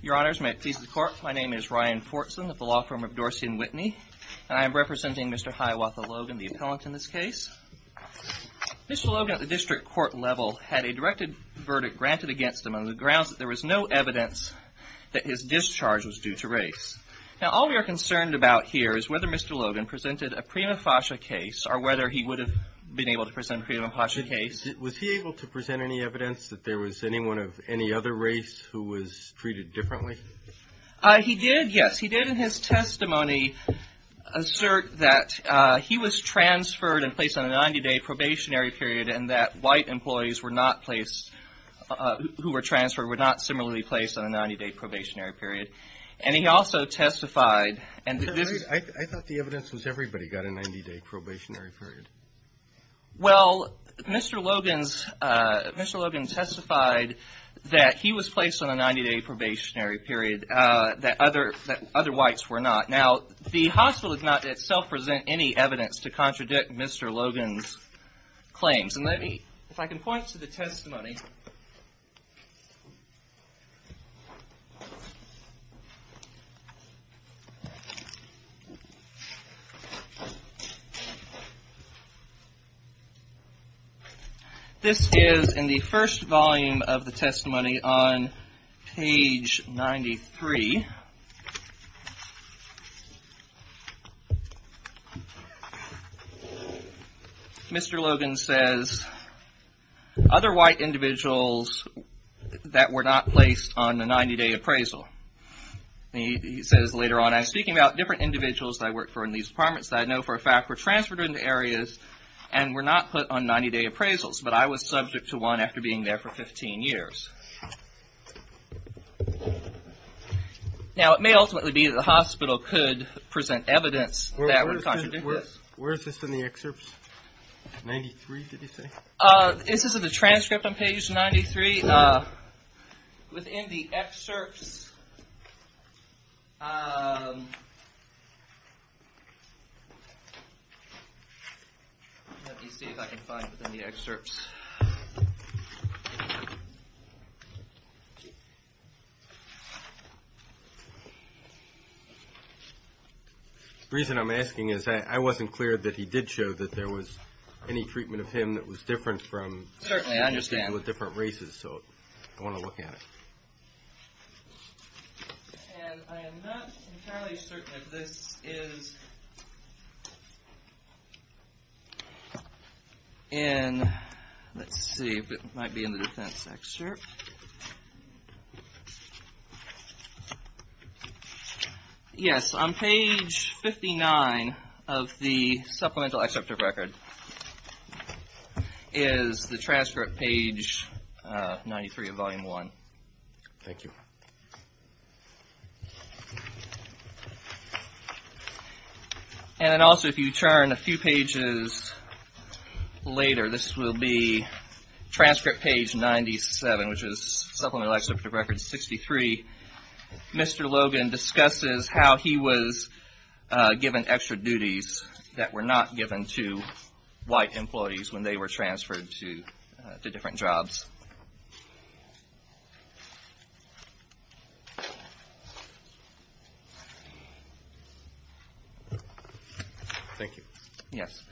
Your Honors, may it please the Court, my name is Ryan Fortson of the Law Firm of Dorsey and Whitney, and I am representing Mr. Hiawatha Logan, the appellant in this case. Mr. Logan at the district court level had a directed verdict granted against him on the grounds that there was no evidence that his discharge was due to race. Now, all we are concerned about here is whether Mr. Logan presented a prima facie case or whether he would have been able to present a prima facie case. Was he able to present any evidence that there was anyone of any other race who was treated differently? MR. HIAWATHA LOGAN He did, yes. He did in his testimony assert that he was transferred and placed on a 90-day probationary period and that white employees who were transferred were not similarly placed on a 90-day probationary period. And he also testified, and this is MR. LOGAN I thought the evidence was everybody got a 90-day probationary period. MR. HIAWATHA LOGAN Well, Mr. Logan testified that he was placed on a 90-day probationary period that other whites were not. Now, the hospital did not itself present any evidence to contradict Mr. Logan's claims. And let me, if I can point to the testimony. This is in the first volume of the testimony on page 93. Mr. Logan says, other white individuals that were not placed on the 90-day appraisal. He says later on, I'm speaking about different individuals that I work for in these departments that I know for a fact were transferred into different areas and were not put on 90-day appraisals. But I was subject to one after being there for 15 years. Now, it may ultimately be that the hospital could present evidence that would contradict this. MR. LOGAN Where is this in the excerpts? 93, did he say? MR. HIAWATHA LOGAN This is in the transcript on page 93. Within the excerpts, Mr. Logan said that he was not placed on the 90-day appraisal. Let me see if I can find it within the excerpts. MR. LOGAN The reason I'm asking is that I wasn't clear that he did show that there was any treatment of him that was different from individuals of different races. So, I want to look at it. MR. HIAWATHA LOGAN And I am not entirely certain that this is in, let's see if it might be in the defense excerpt. Yes, on page 59 of the supplemental excerpt of record is the transcript page 93 of volume 1. MR. LOGAN Thank you. MR. HIAWATHA LOGAN And then also, if you turn a few pages later, this will be transcript page 97, which is supplemental excerpt of record 63. Mr. Logan discusses how he was given extra duties that were not given to white employees when they were transferred to different jobs. MR. LOGAN Thank you. MR. HIAWATHA LOGAN Yes.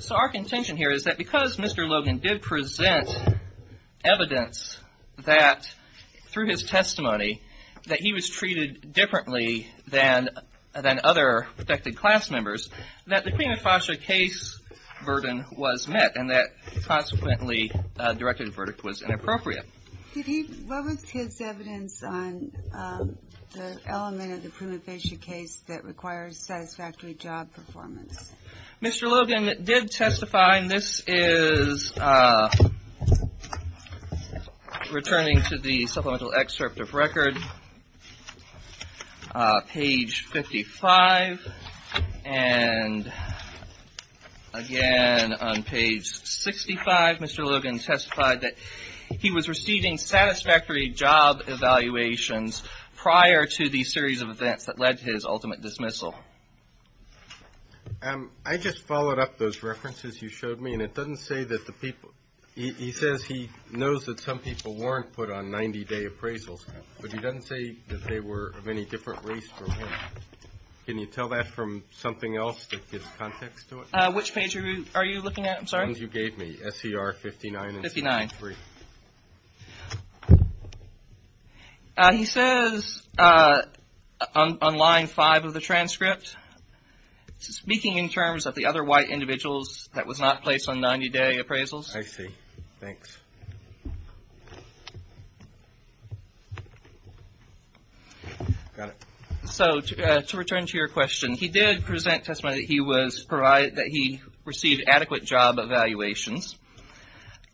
So, our contention here is that because Mr. Logan did present evidence that through his testimony that he was treated differently than other protected class members, that the prima facie case burden was met and that consequently directed verdict was inappropriate. MS. GOTTLIEB Did he, what was his evidence on the element of the prima facie case that MR. HIAWATHA LOGAN Mr. Logan did testify, and this is, returning to the supplemental excerpt, and again on page 65, Mr. Logan testified that he was receiving satisfactory job evaluations prior to the series of events that led to his ultimate dismissal. MR. LOGAN I just followed up those references you showed me, and it doesn't say that the people, he says he knows that some people weren't put on 90-day appraisals, but he doesn't say that they were of any different race from him. Can you tell that from something else that gives context to it? MR. HIAWATHA LOGAN Which page are you looking at? I'm sorry. MR. LOGAN The ones you gave me, SCR 59 and 53. MR. HIAWATHA LOGAN 59. He says on line 5 of the transcript, speaking in terms of the other white individuals that was not placed on 90-day appraisals. MR. LOGAN I see. Thanks. Got it. MR. HIAWATHA LOGAN So to return to your question, he did present testimony that he received adequate job evaluations,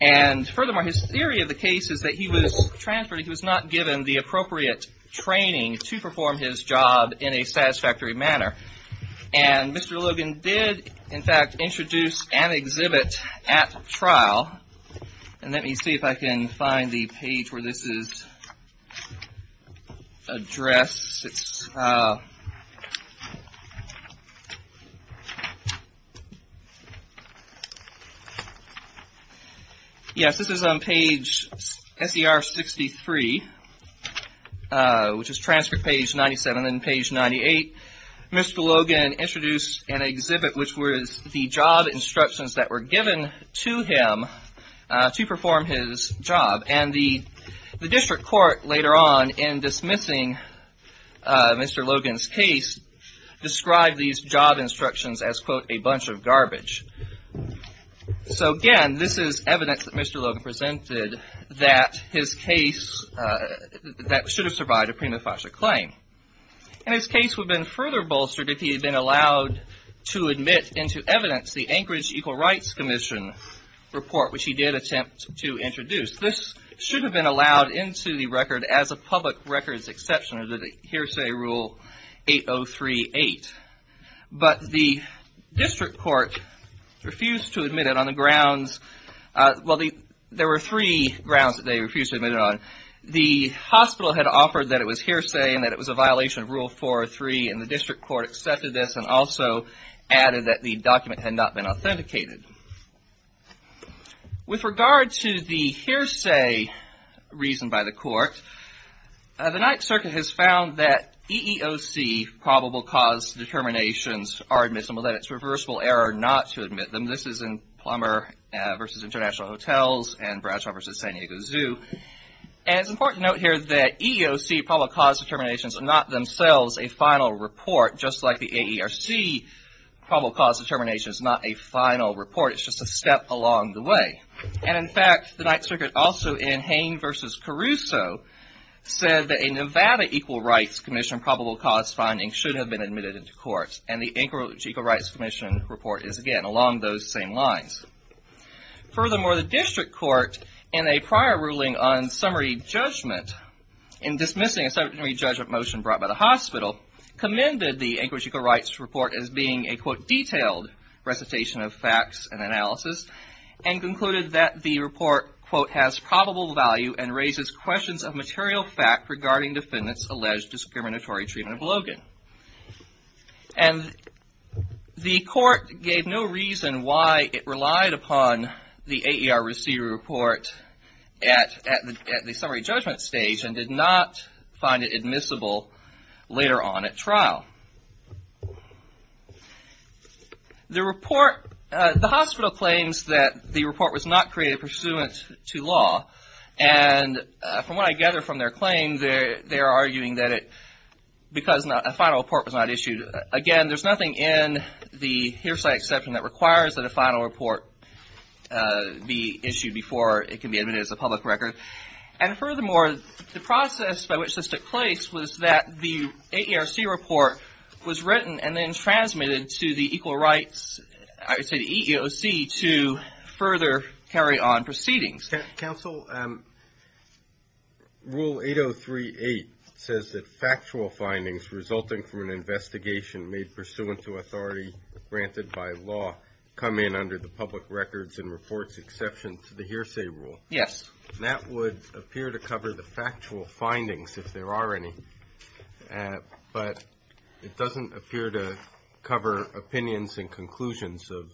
and furthermore, his theory of the case is that he was transferred, he was not given the appropriate training to perform his job in a satisfactory manner, and Mr. Logan did, in fact, introduce and exhibit at trial, and let me see if I can find the page where this is addressed. Yes, this is on page SCR 63, which is transcript page 97 and page 98. Mr. Logan introduced an exhibit, which was the job instructions that were given to him to perform his job, and the district court later on, in dismissing Mr. Logan's case, described these job instructions as, quote, a bunch of garbage. So again, this is evidence that Mr. Logan presented that his case, that should have survived a prima facie claim, and his case would have been further bolstered if he had been allowed to admit into evidence the Anchorage Equal Rights Commission report, which he did attempt to introduce. This should have been allowed into the record as a public records exception under the hearsay rule 8038, but the district court refused to admit it on the grounds that it was hearsay. Well, there were three grounds that they refused to admit it on. The hospital had offered that it was hearsay and that it was a violation of Rule 403, and the district court accepted this and also added that the document had not been authenticated. With regard to the hearsay reason by the court, the Ninth Circuit has found that EEOC probable cause determinations are admissible, that it's reversible error not to admit them. This is in Plummer v. International Hotels and Bradshaw v. San Diego Zoo. And it's important to note here that EEOC probable cause determinations are not themselves a final report, just like the AERC probable cause determination is not a final report. It's just a step along the way. And in fact, the Ninth Circuit also in Hain v. Caruso said that a Nevada Equal Rights Commission probable cause finding should have been admitted into court, and the Anchorage Equal Rights Commission report is again along those same lines. Furthermore, the district court in a prior ruling on summary judgment, in dismissing a summary judgment motion brought by the hospital, commended the Anchorage Equal Rights Report as being a, quote, detailed recitation of facts and analysis, and concluded that the report, quote, has probable value and raises questions of material fact regarding defendants' alleged discriminatory treatment of Logan. And the court gave no reason why it relied upon the AERC report at the summary judgment stage and did not find it admissible later on at trial. The report, the hospital claims that the report was not created pursuant to law, and from what I gather from their claim, they're arguing that it, because a final report was not issued. Again, there's nothing in the hearsay exception that requires that a final report be issued before it can be admitted as a public record. And furthermore, the process by which this took place was that the AERC report was written and then transmitted to the Equal Rights, I would say the EEOC, to further carry on proceedings. Counsel, Rule 8038 says that factual findings resulting from an investigation made pursuant to authority granted by law come in under the public records and reports exception to the hearsay rule. Yes. That would appear to cover the factual findings, if there are any, but it doesn't appear to cover the conclusions of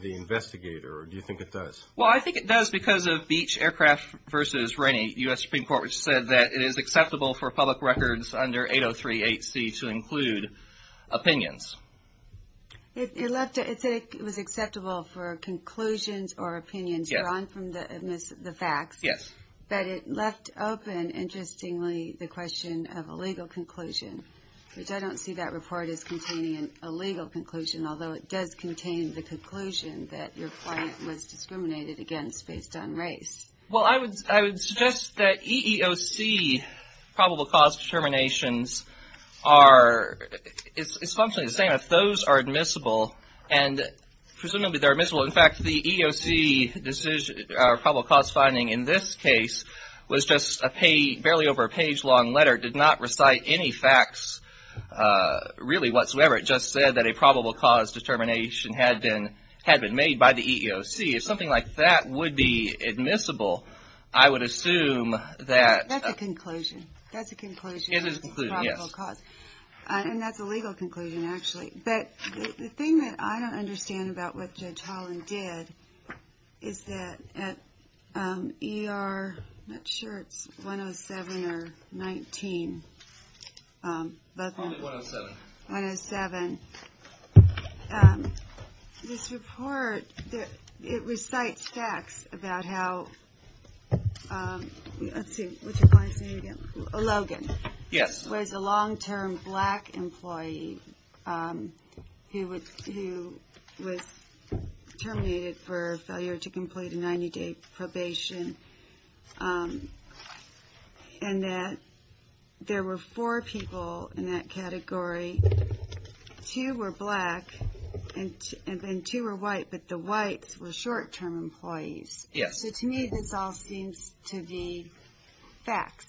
the investigator, or do you think it does? Well, I think it does because of Beach Aircraft v. Rainey, U.S. Supreme Court, which said that it is acceptable for public records under 8038C to include opinions. It said it was acceptable for conclusions or opinions drawn from the facts. Yes. But it left open, interestingly, the question of a legal conclusion, which I don't see that as a legal conclusion, although it does contain the conclusion that your client was discriminated against based on race. Well, I would suggest that EEOC probable cause determinations are, it's functionally the same. If those are admissible, and presumably they're admissible, in fact, the EEOC decision, probable cause finding in this case, was just barely over a page-long letter, did not recite any facts, really, whatsoever. It just said that a probable cause determination had been made by the EEOC. If something like that would be admissible, I would assume that... That's a conclusion. That's a conclusion. It is a conclusion, yes. And that's a legal conclusion, actually. But the thing that I don't understand about what the EEOC said, whether it was 107 or 19... 107. 107. This report, it recites facts about how, let's see, what's your client's name again? Logan. Yes. Was a long-term black employee who was terminated for failure to complete a 90-day probation and that there were four people in that category, two were black and two were white, but the whites were short-term employees. Yes. So to me, this all seems to be facts.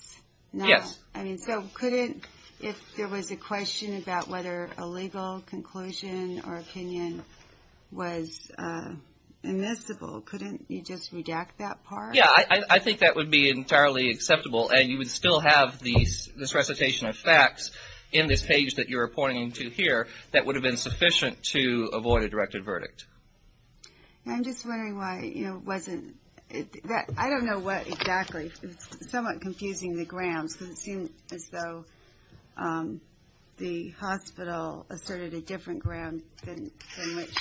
Yes. Now, I mean, so couldn't, if there was a question about whether a legal conclusion or opinion was admissible, couldn't you just redact that part? Yeah, I think that would be entirely acceptable, and you would still have this recitation of facts in this page that you're pointing to here that would have been sufficient to avoid a directed verdict. I'm just wondering why it wasn't... I don't know what exactly, it's somewhat confusing the grounds, because it seemed as though the hospital asserted a different ground than which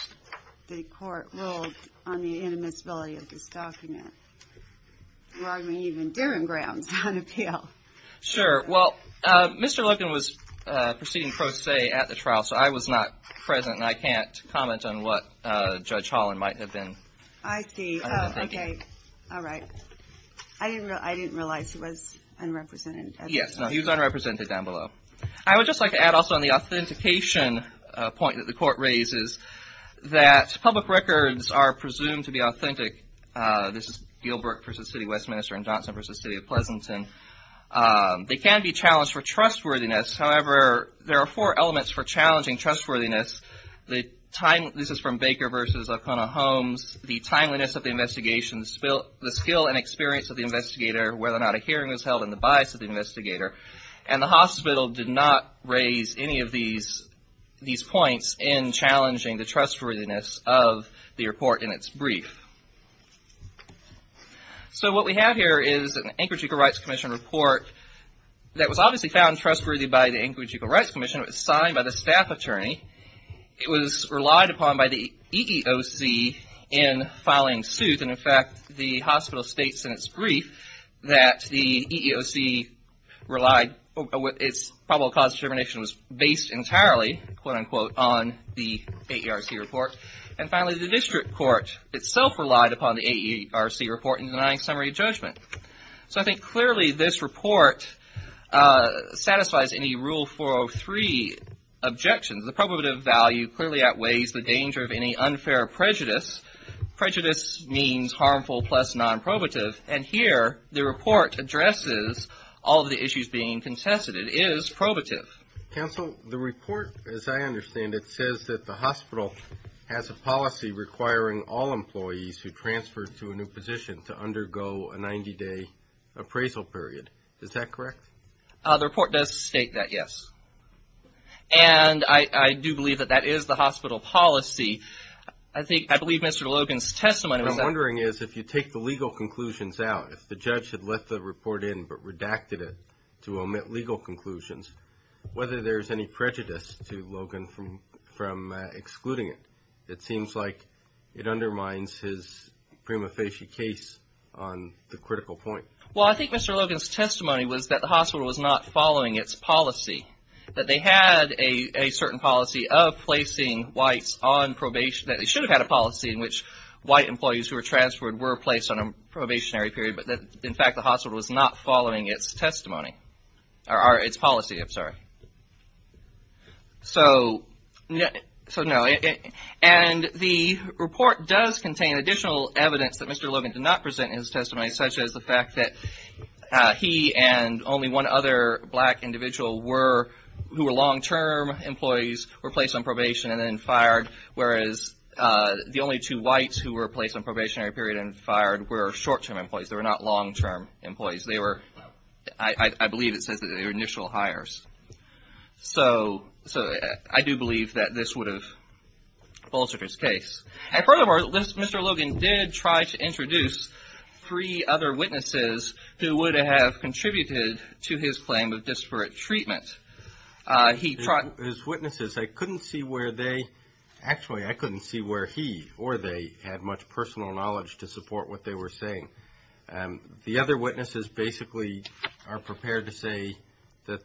the court ruled on the inadmissibility of this document. I mean, even Durham grounds on appeal. Sure. Well, Mr. Logan was proceeding pro se at the trial, so I was not present, and I can't comment on what Judge Holland might have been. I see. Okay. All right. I didn't realize he was unrepresented. Yes. No, he was unrepresented down below. I would just like to add also on the authentication point that the court raises, that public records are presumed to be authentic. This is Gilbert v. City Westminster and Johnson v. City of Pleasanton. They can be challenged for trustworthiness. However, there are four elements for challenging trustworthiness. This is from Baker v. O'Connor Holmes. The timeliness of the investigation, the skill and experience of the investigator, whether or not a hearing was held, and the bias of the investigator. And the hospital did not raise any of these points in challenging the trustworthiness of the report in its brief. So what we have here is an Anchorage Equal Rights Commission report that was obviously found trustworthy by the Anchorage Equal Rights Commission. It was signed by the staff attorney. It was relied upon by the EEOC in filing suit. And in fact, the hospital states in its brief that the EEOC relied, its probable cause determination was based entirely, quote unquote, on the AERC report. And finally, the district court itself relied upon the AERC report in denying summary judgment. So I think clearly this report satisfies any Rule 403 objections. The probative value clearly outweighs the danger of any unfair prejudice. Prejudice means harmful plus non-probative. And here the report addresses all of the issues being contested. It is probative. Counsel, the report, as I understand it, says that the hospital has a policy requiring all employees who transfer to a new position to undergo a 90-day appraisal period. Is that correct? The report does state that, yes. And I do believe that that is the hospital policy. I believe Mr. Logan's testimony was that. What I'm wondering is if you take the legal conclusions out, if the judge had left the report in but redacted it to omit legal conclusions, whether there's any prejudice to Logan from excluding it. It seems like it undermines his prima facie case on the critical point. Well, I think Mr. Logan's testimony was that the hospital was not following its policy, that they had a certain policy of placing whites on probation, that they should have had a policy in which white employees who were transferred were placed on a probationary period, but that, in fact, the hospital was not following its testimony or its policy. I'm sorry. So, no. And the report does contain additional evidence that Mr. Logan did not present in his testimony, such as the fact that he and only one other black individual who were long-term employees were placed on probation and then fired, whereas the only two whites who were placed on probationary period and fired were short-term employees. They were not long-term employees. I believe it says that they were initial hires. So, I do believe that this would have bolstered his case. And furthermore, Mr. Logan did try to introduce three other witnesses who would have contributed to his claim of disparate treatment. His witnesses, I couldn't see where they – actually, I couldn't see where he or they had much personal knowledge to support what they were saying. The other witnesses basically are prepared to say that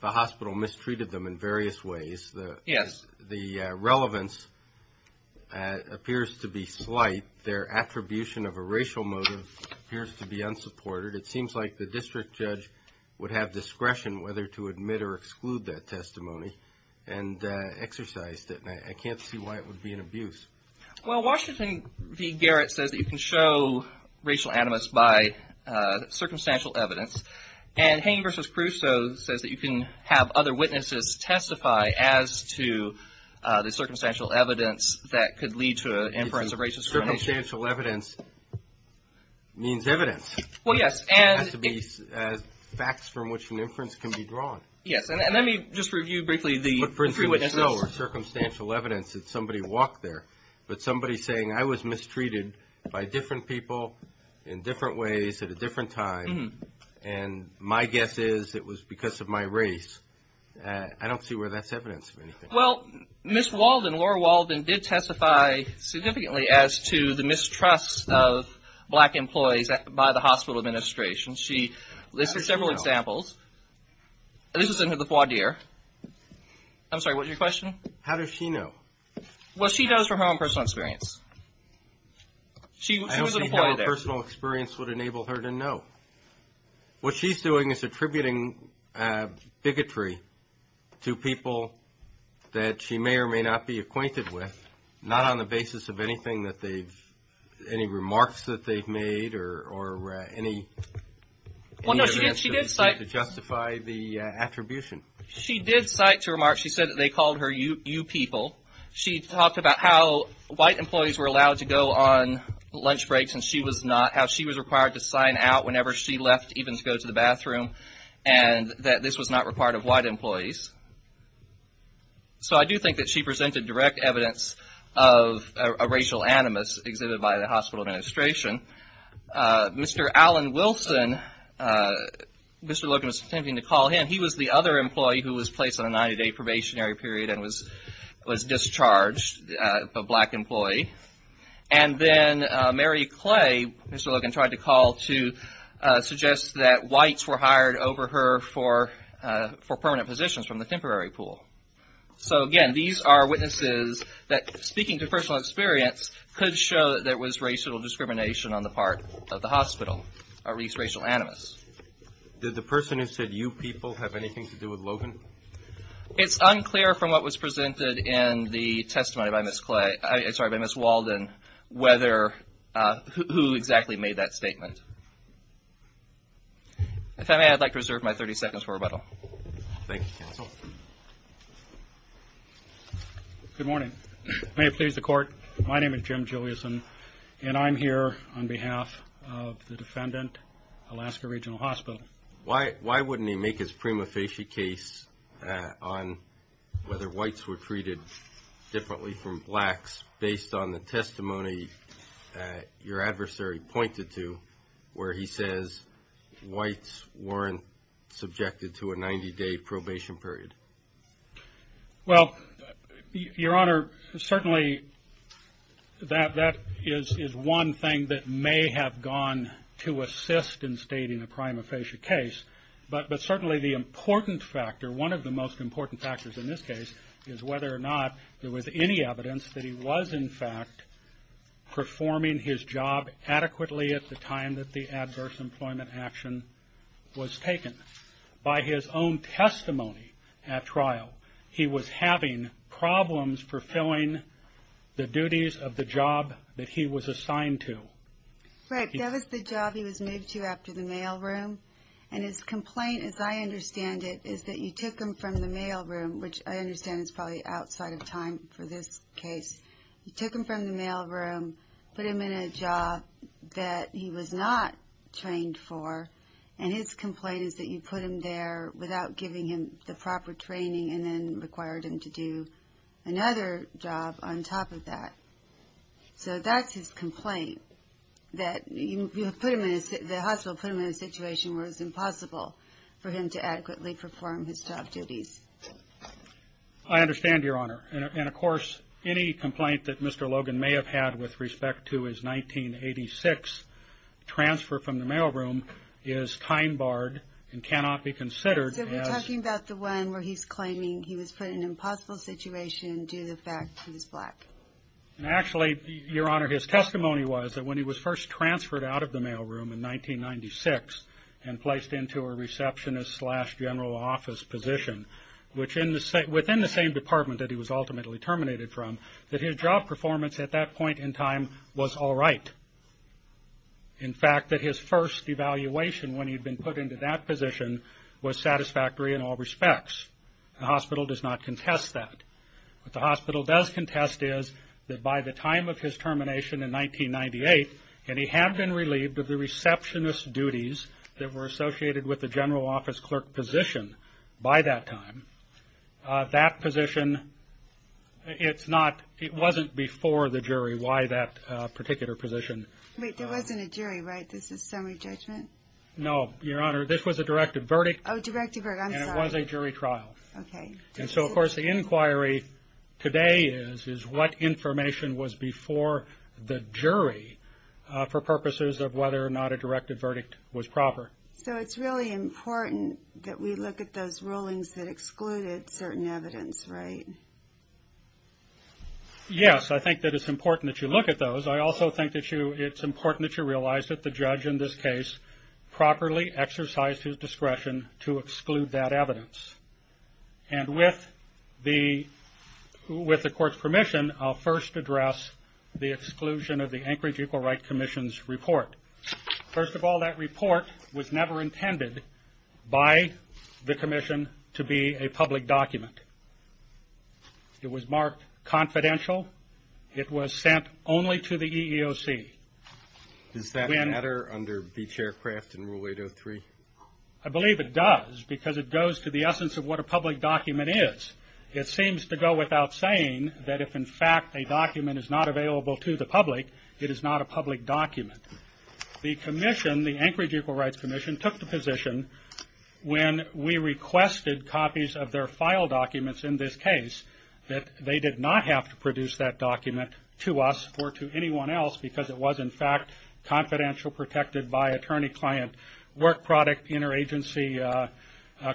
the hospital mistreated them in various ways. Yes. The relevance appears to be slight. Their attribution of a racial motive appears to be unsupported. It seems like the district judge would have discretion whether to admit or exclude that testimony and exercised it, and I can't see why it would be an abuse. Well, Washington v. Garrett says that you can show racial animus by circumstantial evidence, and Hain v. Crusoe says that you can have other witnesses testify as to the circumstantial evidence that could lead to an inference of racial discrimination. Circumstantial evidence means evidence. Well, yes. It has to be facts from which an inference can be drawn. Yes. And let me just review briefly the three witnesses. For instance, circumstantial evidence that somebody walked there, but somebody saying I was mistreated by different people in different ways at a different time and my guess is it was because of my race. I don't see where that's evidence of anything. Well, Ms. Walden, Laura Walden, did testify significantly as to the mistrust of black employees by the hospital administration. She listed several examples. This was in the voir dire. I'm sorry, what was your question? How does she know? Well, she knows from her own personal experience. I don't think her own personal experience would enable her to know. What she's doing is attributing bigotry to people that she may or may not be acquainted with, not on the basis of anything that they've, any remarks that they've made or any evidence to justify the attribution. She did cite remarks. She said that they called her you people. She talked about how white employees were allowed to go on lunch breaks and she was not, how she was required to sign out whenever she left, even to go to the bathroom, and that this was not required of white employees. So I do think that she presented direct evidence of a racial animus exhibited by the hospital administration. Mr. Alan Wilson, Mr. Logan was attempting to call him, and he was the other employee who was placed on a 90-day probationary period and was discharged, a black employee. And then Mary Clay, Mr. Logan tried to call to suggest that whites were hired over her for permanent positions from the temporary pool. So, again, these are witnesses that, speaking to personal experience, could show that there was racial discrimination on the part of the hospital or at least racial animus. Did the person who said you people have anything to do with Logan? It's unclear from what was presented in the testimony by Ms. Clay, sorry, by Ms. Walden, whether, who exactly made that statement. If I may, I'd like to reserve my 30 seconds for rebuttal. Thank you, counsel. Good morning. May it please the Court. My name is Jim Juliason, and I'm here on behalf of the defendant, Alaska Regional Hospital. Why wouldn't he make his prima facie case on whether whites were treated differently from blacks, based on the testimony your adversary pointed to where he says whites weren't subjected to a 90-day probation period? Well, Your Honor, certainly that is one thing that may have gone to assist in stating a prima facie case, but certainly the important factor, one of the most important factors in this case, is whether or not there was any evidence that he was, in fact, performing his job adequately at the time that the adverse employment action was taken. By his own testimony at trial, he was having problems fulfilling the duties of the job that he was assigned to. Right. That was the job he was moved to after the mailroom. And his complaint, as I understand it, is that you took him from the mailroom, which I understand is probably outside of time for this case. You took him from the mailroom, put him in a job that he was not trained for, and his complaint is that you put him there without giving him the proper training and then required him to do another job on top of that. So that's his complaint, that the hospital put him in a situation where it was impossible for him to adequately perform his job duties. I understand, Your Honor. And, of course, any complaint that Mr. Logan may have had with respect to his 1986 transfer from the mailroom is time-barred and cannot be considered as- So we're talking about the one where he's claiming he was put in an impossible situation due to the fact he was black. Actually, Your Honor, his testimony was that when he was first transferred out of the mailroom in 1996 and placed into a receptionist slash general office position, which within the same department that he was ultimately terminated from, that his job performance at that point in time was all right. In fact, that his first evaluation when he'd been put into that position was satisfactory in all respects. The hospital does not contest that. What the hospital does contest is that by the time of his termination in 1998, and he had been relieved of the receptionist duties that were associated with the general office clerk position by that time, that position, it's not, it wasn't before the jury why that particular position- Wait, there wasn't a jury, right? This is summary judgment? No, Your Honor, this was a directive verdict. Oh, directive verdict, I'm sorry. And it was a jury trial. Okay. And so, of course, the inquiry today is what information was before the jury for purposes of whether or not a directive verdict was proper. So it's really important that we look at those rulings that excluded certain evidence, right? Yes, I think that it's important that you look at those. I also think that it's important that you realize that the judge in this case properly exercised his discretion to exclude that evidence. And with the court's permission, I'll first address the exclusion of the Anchorage Equal Rights Commission's report. First of all, that report was never intended by the commission to be a public document. It was marked confidential. It was sent only to the EEOC. Does that matter under Beech Aircraft and Rule 803? I believe it does because it goes to the essence of what a public document is. It seems to go without saying that if, in fact, a document is not available to the public, it is not a public document. The commission, the Anchorage Equal Rights Commission, took the position when we requested copies of their file documents in this case, that they did not have to produce that document to us or to anyone else because it was, in fact, confidential, and also protected by attorney-client work product interagency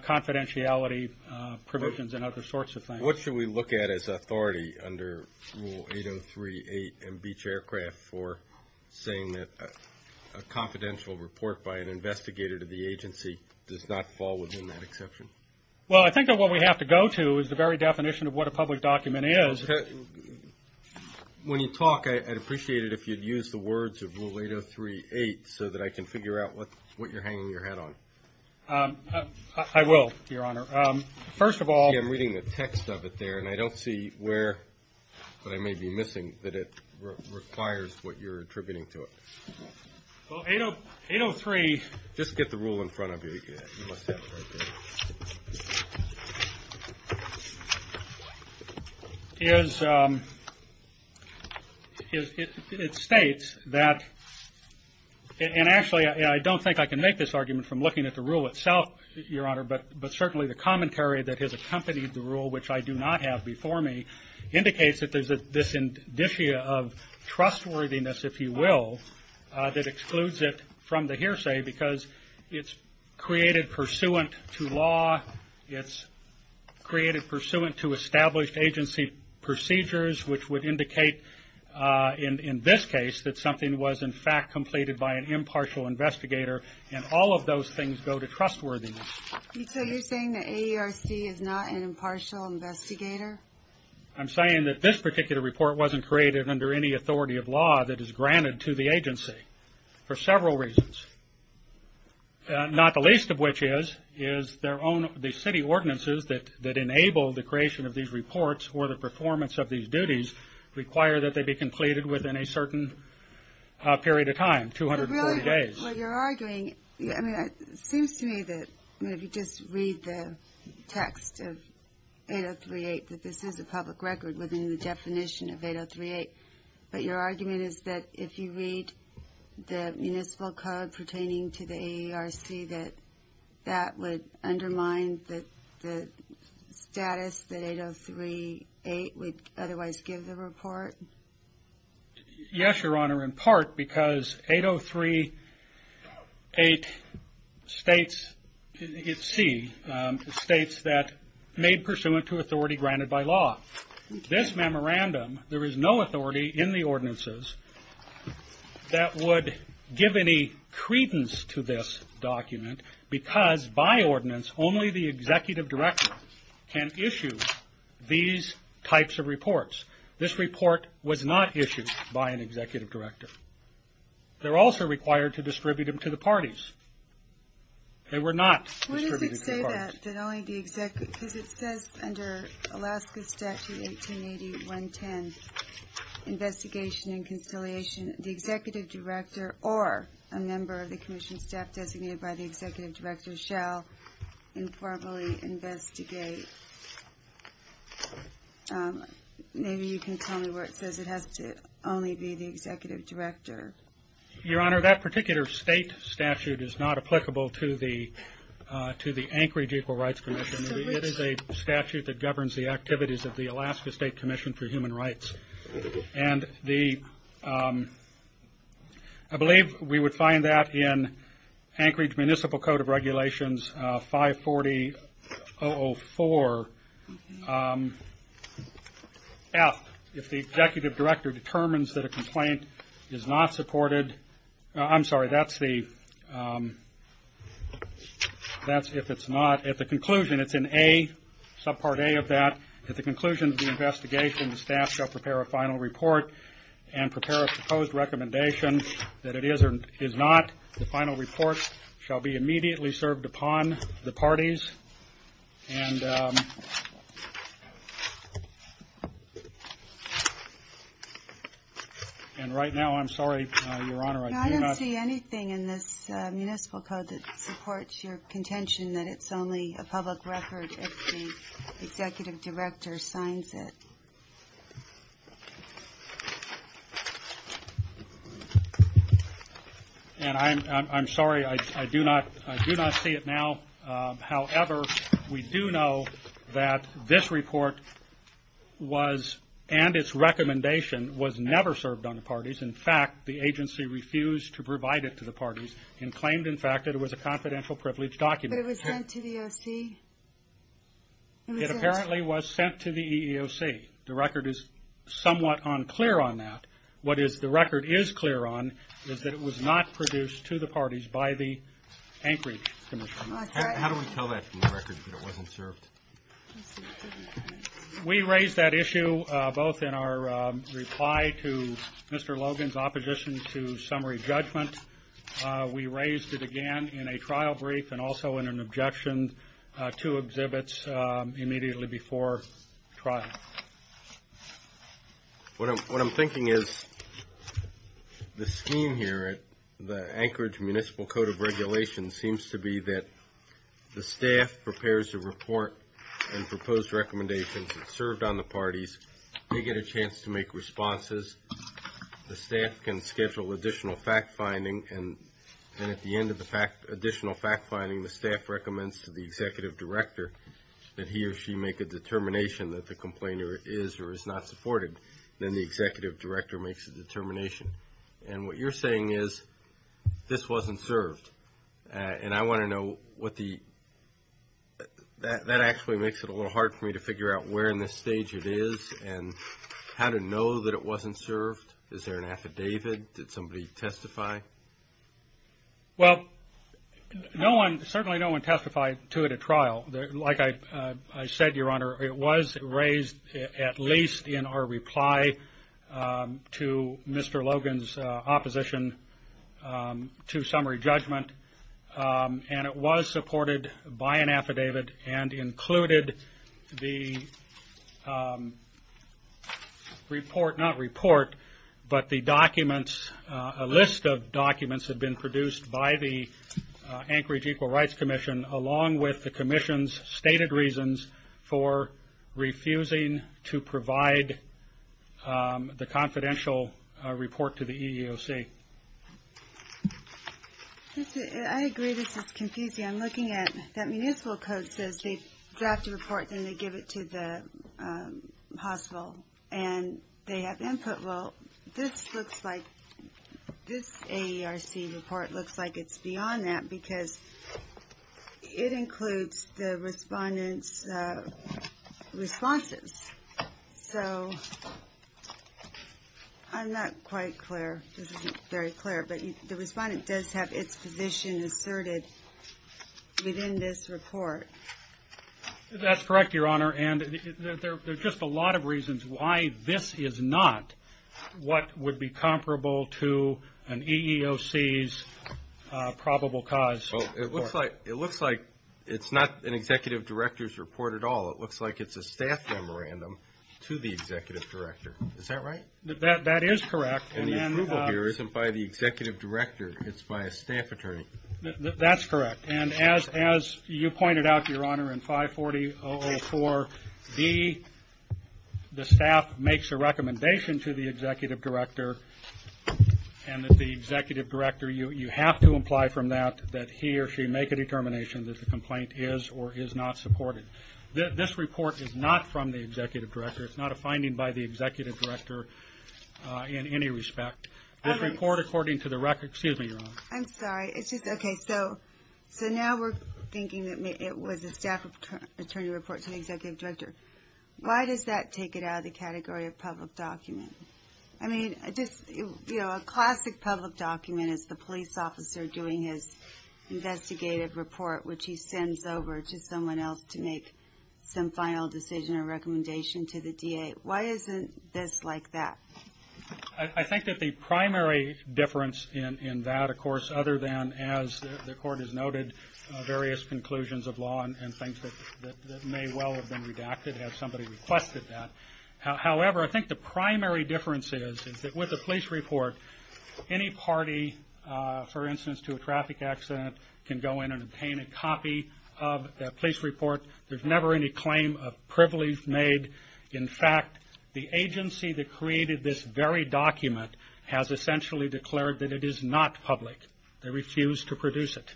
confidentiality provisions and other sorts of things. What should we look at as authority under Rule 803-8 in Beech Aircraft for saying that a confidential report by an investigator to the agency does not fall within that exception? Well, I think that what we have to go to is the very definition of what a public document is. When you talk, I'd appreciate it if you'd use the words of Rule 803-8 so that I can figure out what you're hanging your hat on. I will, Your Honor. First of all— I'm reading the text of it there, and I don't see where, but I may be missing, that it requires what you're attributing to it. Well, 803— Just get the rule in front of you. You must have it right there. It states that—and actually, I don't think I can make this argument from looking at the rule itself, Your Honor, but certainly the commentary that has accompanied the rule, which I do not have before me, indicates that there's this indicia of trustworthiness, if you will, that excludes it from the hearsay because it's created pursuant to law, it's created pursuant to established agency procedures, which would indicate in this case that something was, in fact, completed by an impartial investigator, and all of those things go to trustworthiness. So you're saying that AERC is not an impartial investigator? I'm saying that this particular report wasn't created under any authority of law that is granted to the agency for several reasons, not the least of which is the city ordinances that enable the creation of these reports or the performance of these duties require that they be completed within a certain period of time, 240 days. Well, you're arguing—I mean, it seems to me that if you just read the text of 803.8, that this is a public record within the definition of 803.8, but your argument is that if you read the municipal code pertaining to the AERC, that that would undermine the status that 803.8 would otherwise give the report? Yes, Your Honor, in part because 803.8 states—it's C—states that made pursuant to authority granted by law. This memorandum, there is no authority in the ordinances that would give any credence to this document because by ordinance only the executive director can issue these types of reports. This report was not issued by an executive director. They were also required to distribute them to the parties. They were not distributed to the parties. What if it said that only the executive—because it says under Alaska Statute 1880.110, investigation and conciliation, the executive director or a member of the commission staff designated by the executive director shall informally investigate? Maybe you can tell me where it says it has to only be the executive director. Your Honor, that particular state statute is not applicable to the Anchorage Equal Rights Commission. It is a statute that governs the activities of the Alaska State Commission for Human Rights. I believe we would find that in Anchorage Municipal Code of Regulations 540-004-F. If the executive director determines that a complaint is not supported—I'm sorry, that's if it's not. At the conclusion, it's in Subpart A of that. At the conclusion of the investigation, the staff shall prepare a final report and prepare a proposed recommendation that it is or is not. The final report shall be immediately served upon the parties. And right now, I'm sorry, Your Honor, I do not— It would be a public record if the executive director signs it. And I'm sorry, I do not see it now. However, we do know that this report and its recommendation was never served on the parties. In fact, the agency refused to provide it to the parties and claimed, in fact, that it was a confidential privilege document. But it was sent to the EEOC? It apparently was sent to the EEOC. The record is somewhat unclear on that. What the record is clear on is that it was not produced to the parties by the Anchorage Commission. How do we tell that from the record that it wasn't served? We raised that issue both in our reply to Mr. Logan's opposition to summary judgment. We raised it again in a trial brief and also in an objection to exhibits immediately before trial. What I'm thinking is the scheme here at the Anchorage Municipal Code of Regulations seems to be that the staff prepares the report and proposed recommendations that served on the parties. They get a chance to make responses. The staff can schedule additional fact-finding. And at the end of the additional fact-finding, the staff recommends to the executive director that he or she make a determination that the complainer is or is not supported. Then the executive director makes a determination. And what you're saying is this wasn't served. That actually makes it a little hard for me to figure out where in this stage it is and how to know that it wasn't served. Is there an affidavit? Did somebody testify? Well, certainly no one testified to it at trial. Like I said, Your Honor, it was raised at least in our reply to Mr. Logan's opposition to summary judgment. And it was supported by an affidavit and included the list of documents that had been produced by the Anchorage Equal Rights Commission along with the commission's stated reasons for refusing to provide the confidential report to the EEOC. I agree this is confusing. I'm looking at that municipal code says they draft a report, then they give it to the hospital. And they have input. Well, this looks like this AERC report looks like it's beyond that because it includes the respondent's responses. So I'm not quite clear. This isn't very clear. But the respondent does have its position asserted within this report. That's correct, Your Honor. And there's just a lot of reasons why this is not what would be comparable to an EEOC's probable cause. It looks like it's not an executive director's report at all. It looks like it's a staff memorandum to the executive director. Is that right? That is correct. And the approval here isn't by the executive director. It's by a staff attorney. That's correct. And as you pointed out, Your Honor, in 540-004-B, the staff makes a recommendation to the executive director. And the executive director, you have to imply from that that he or she make a determination that the complaint is or is not supported. This report is not from the executive director. It's not a finding by the executive director in any respect. This report, according to the record, excuse me, Your Honor. I'm sorry. It's just, okay, so now we're thinking that it was a staff attorney report to the executive director. Why does that take it out of the category of public document? I mean, just, you know, a classic public document is the police officer doing his investigative report, which he sends over to someone else to make some final decision or recommendation to the DA. Why isn't this like that? I think that the primary difference in that, of course, other than, as the Court has noted, various conclusions of law and things that may well have been redacted had somebody requested that. However, I think the primary difference is that with the police report, any party, for instance, to a traffic accident can go in and obtain a copy of that police report. There's never any claim of privilege made. In fact, the agency that created this very document has essentially declared that it is not public. They refuse to produce it.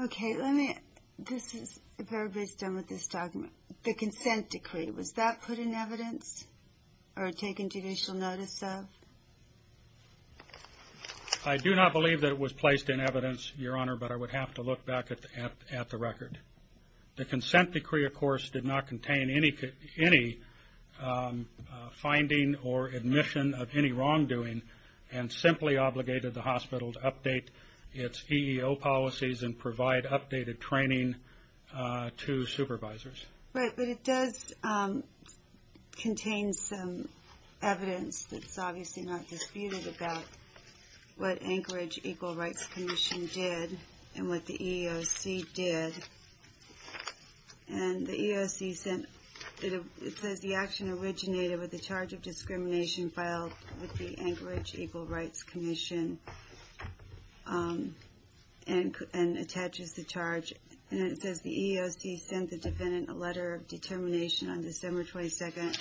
Okay. Let me, this is, if everybody's done with this document, the consent decree, was that put in evidence or taken judicial notice of? I do not believe that it was placed in evidence, Your Honor, but I would have to look back at the record. The consent decree, of course, did not contain any finding or admission of any wrongdoing and simply obligated the hospital to update its EEO policies and provide updated training to supervisors. Right. But it does contain some evidence that's obviously not disputed about what Anchorage Equal Rights Commission did and what the EEOC did. And the EEOC sent, it says the action originated with the charge of discrimination filed with the Anchorage Equal Rights Commission and attaches the charge. And it says the EEOC sent the defendant a letter of determination on December 22nd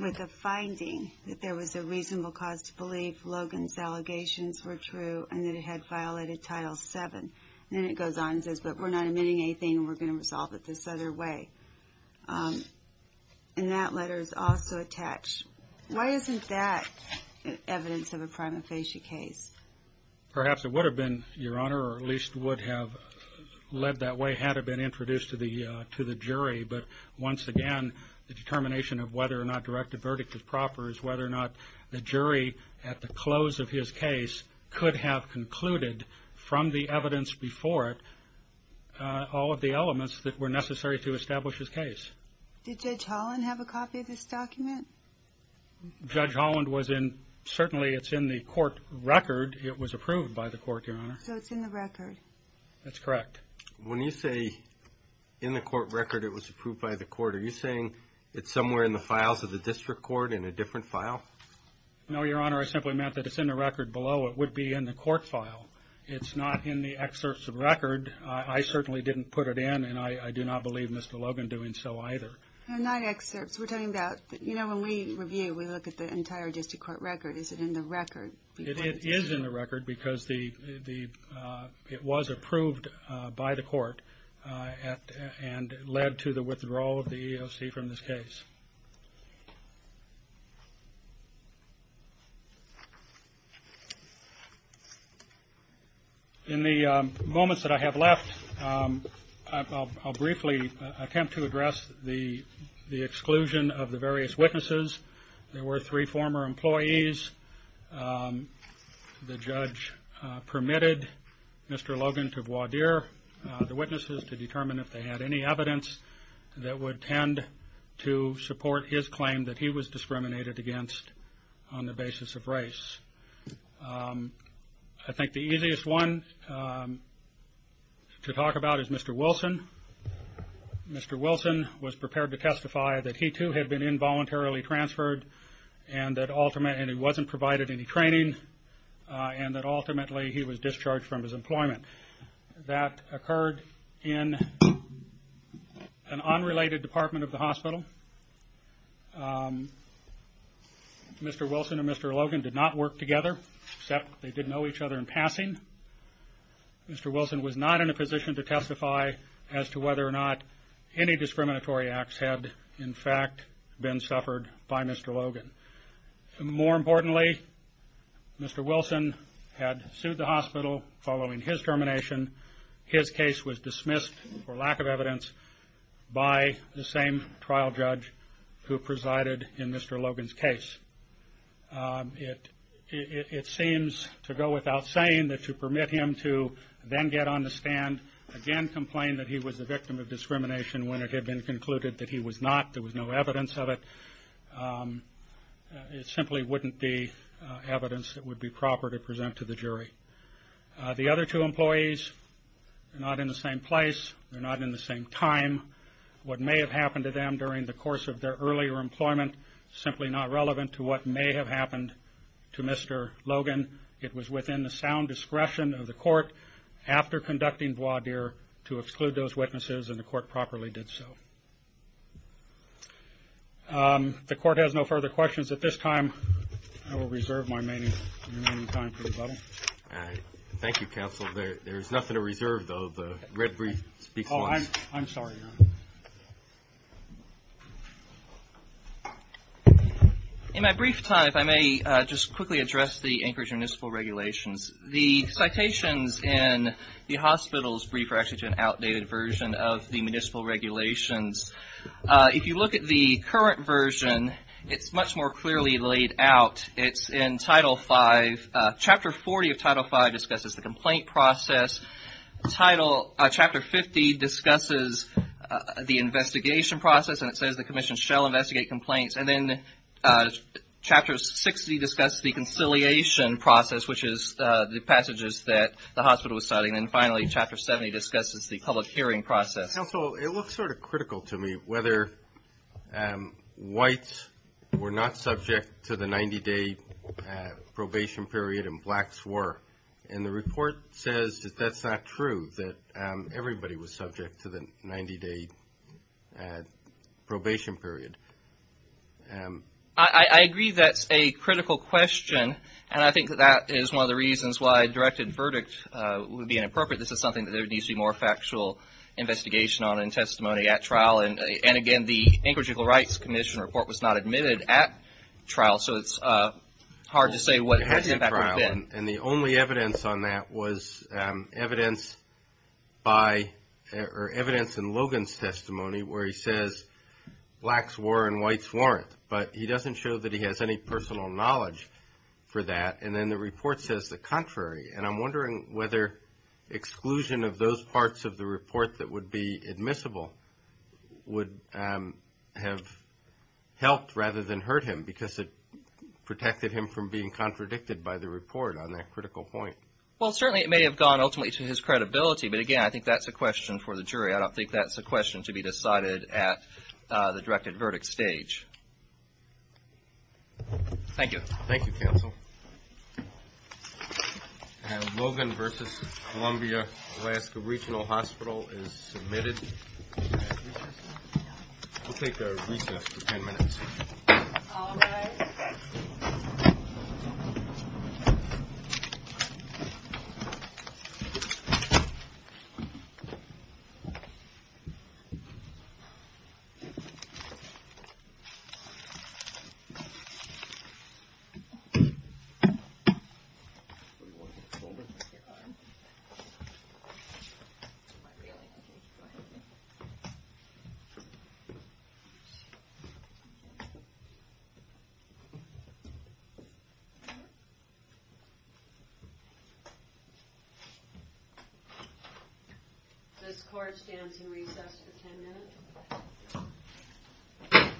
with a finding that there was a reasonable cause to believe Logan's allegations were true and that it had violated Title VII. And then it goes on and says, but we're not admitting anything and we're going to resolve it this other way. And that letter is also attached. Why isn't that evidence of a prima facie case? Perhaps it would have been, Your Honor, or at least would have led that way had it been introduced to the jury. But once again, the determination of whether or not direct a verdict is proper is whether or not the jury at the close of his case could have concluded from the evidence before it all of the elements that were necessary to establish his case. Did Judge Holland have a copy of this document? Judge Holland was in, certainly it's in the court record. It was approved by the court, Your Honor. So it's in the record. That's correct. When you say in the court record it was approved by the court, are you saying it's somewhere in the files of the district court in a different file? No, Your Honor, I simply meant that it's in the record below. It would be in the court file. It's not in the excerpts of record. I certainly didn't put it in and I do not believe Mr. Logan doing so either. No, not excerpts. We're talking about, you know, when we review, we look at the entire district court record. Is it in the record? It is in the record because it was approved by the court and led to the withdrawal of the EEOC from this case. In the moments that I have left, I'll briefly attempt to address the exclusion of the various witnesses. There were three former employees. The judge permitted Mr. Logan to voir dire the witnesses to determine if they had any evidence that would tend to support his claim that he was discriminated against on the basis of race. I think the easiest one to talk about is Mr. Wilson. Mr. Wilson was prepared to testify that he too had been involuntarily transferred and that ultimately he wasn't provided any training and that ultimately he was discharged from his employment. That occurred in an unrelated department of the hospital. Mr. Wilson and Mr. Logan did not work together except they did know each other in passing. Mr. Wilson was not in a position to testify as to whether or not any discriminatory acts had in fact been suffered by Mr. Logan. More importantly, Mr. Wilson had sued the hospital following his termination. His case was dismissed for lack of evidence by the same trial judge who presided in Mr. Logan's case. It seems to go without saying that to permit him to then get on the stand, again complain that he was the victim of discrimination when it had been concluded that he was not, there was no evidence of it, it simply wouldn't be evidence that would be proper to present to the jury. The other two employees are not in the same place, they're not in the same time. What may have happened to them during the course of their earlier employment is simply not relevant to what may have happened to Mr. Logan. It was within the sound discretion of the court after conducting voir dire to exclude those witnesses and the court properly did so. The court has no further questions at this time. I will reserve my remaining time for rebuttal. Thank you, counsel. There's nothing to reserve, though. I'm sorry, Your Honor. In my brief time, if I may just quickly address the Anchorage Municipal Regulations. The citations in the hospital's brief are actually an outdated version of the municipal regulations. If you look at the current version, it's much more clearly laid out. It's in Title V. Chapter 40 of Title V discusses the complaint process. Title Chapter 50 discusses the investigation process, and it says the commission shall investigate complaints. And then Chapter 60 discusses the conciliation process, which is the passages that the hospital was citing. And finally, Chapter 70 discusses the public hearing process. Counsel, it looks sort of critical to me whether whites were not subject to the 90-day probation period and blacks were. And the report says that that's not true, that everybody was subject to the 90-day probation period. I agree that's a critical question, and I think that that is one of the reasons why a directed verdict would be inappropriate. This is something that there needs to be more factual investigation on and testimony at trial. And, again, the Anchorage Equal Rights Commission report was not admitted at trial, so it's hard to say what the impact would have been. And the only evidence on that was evidence in Logan's testimony where he says blacks were and whites weren't, but he doesn't show that he has any personal knowledge for that. And then the report says the contrary, and I'm wondering whether exclusion of those parts of the report that would be admissible would have helped rather than hurt him, because it protected him from being contradicted by the report on that critical point. Well, certainly it may have gone ultimately to his credibility, but, again, I think that's a question for the jury. I don't think that's a question to be decided at the directed verdict stage. Thank you, Counsel. And Logan versus Columbia Alaska Regional Hospital is submitted. We'll take a recess for 10 minutes. All rise. This court stands in recess for 10 minutes. Counsel?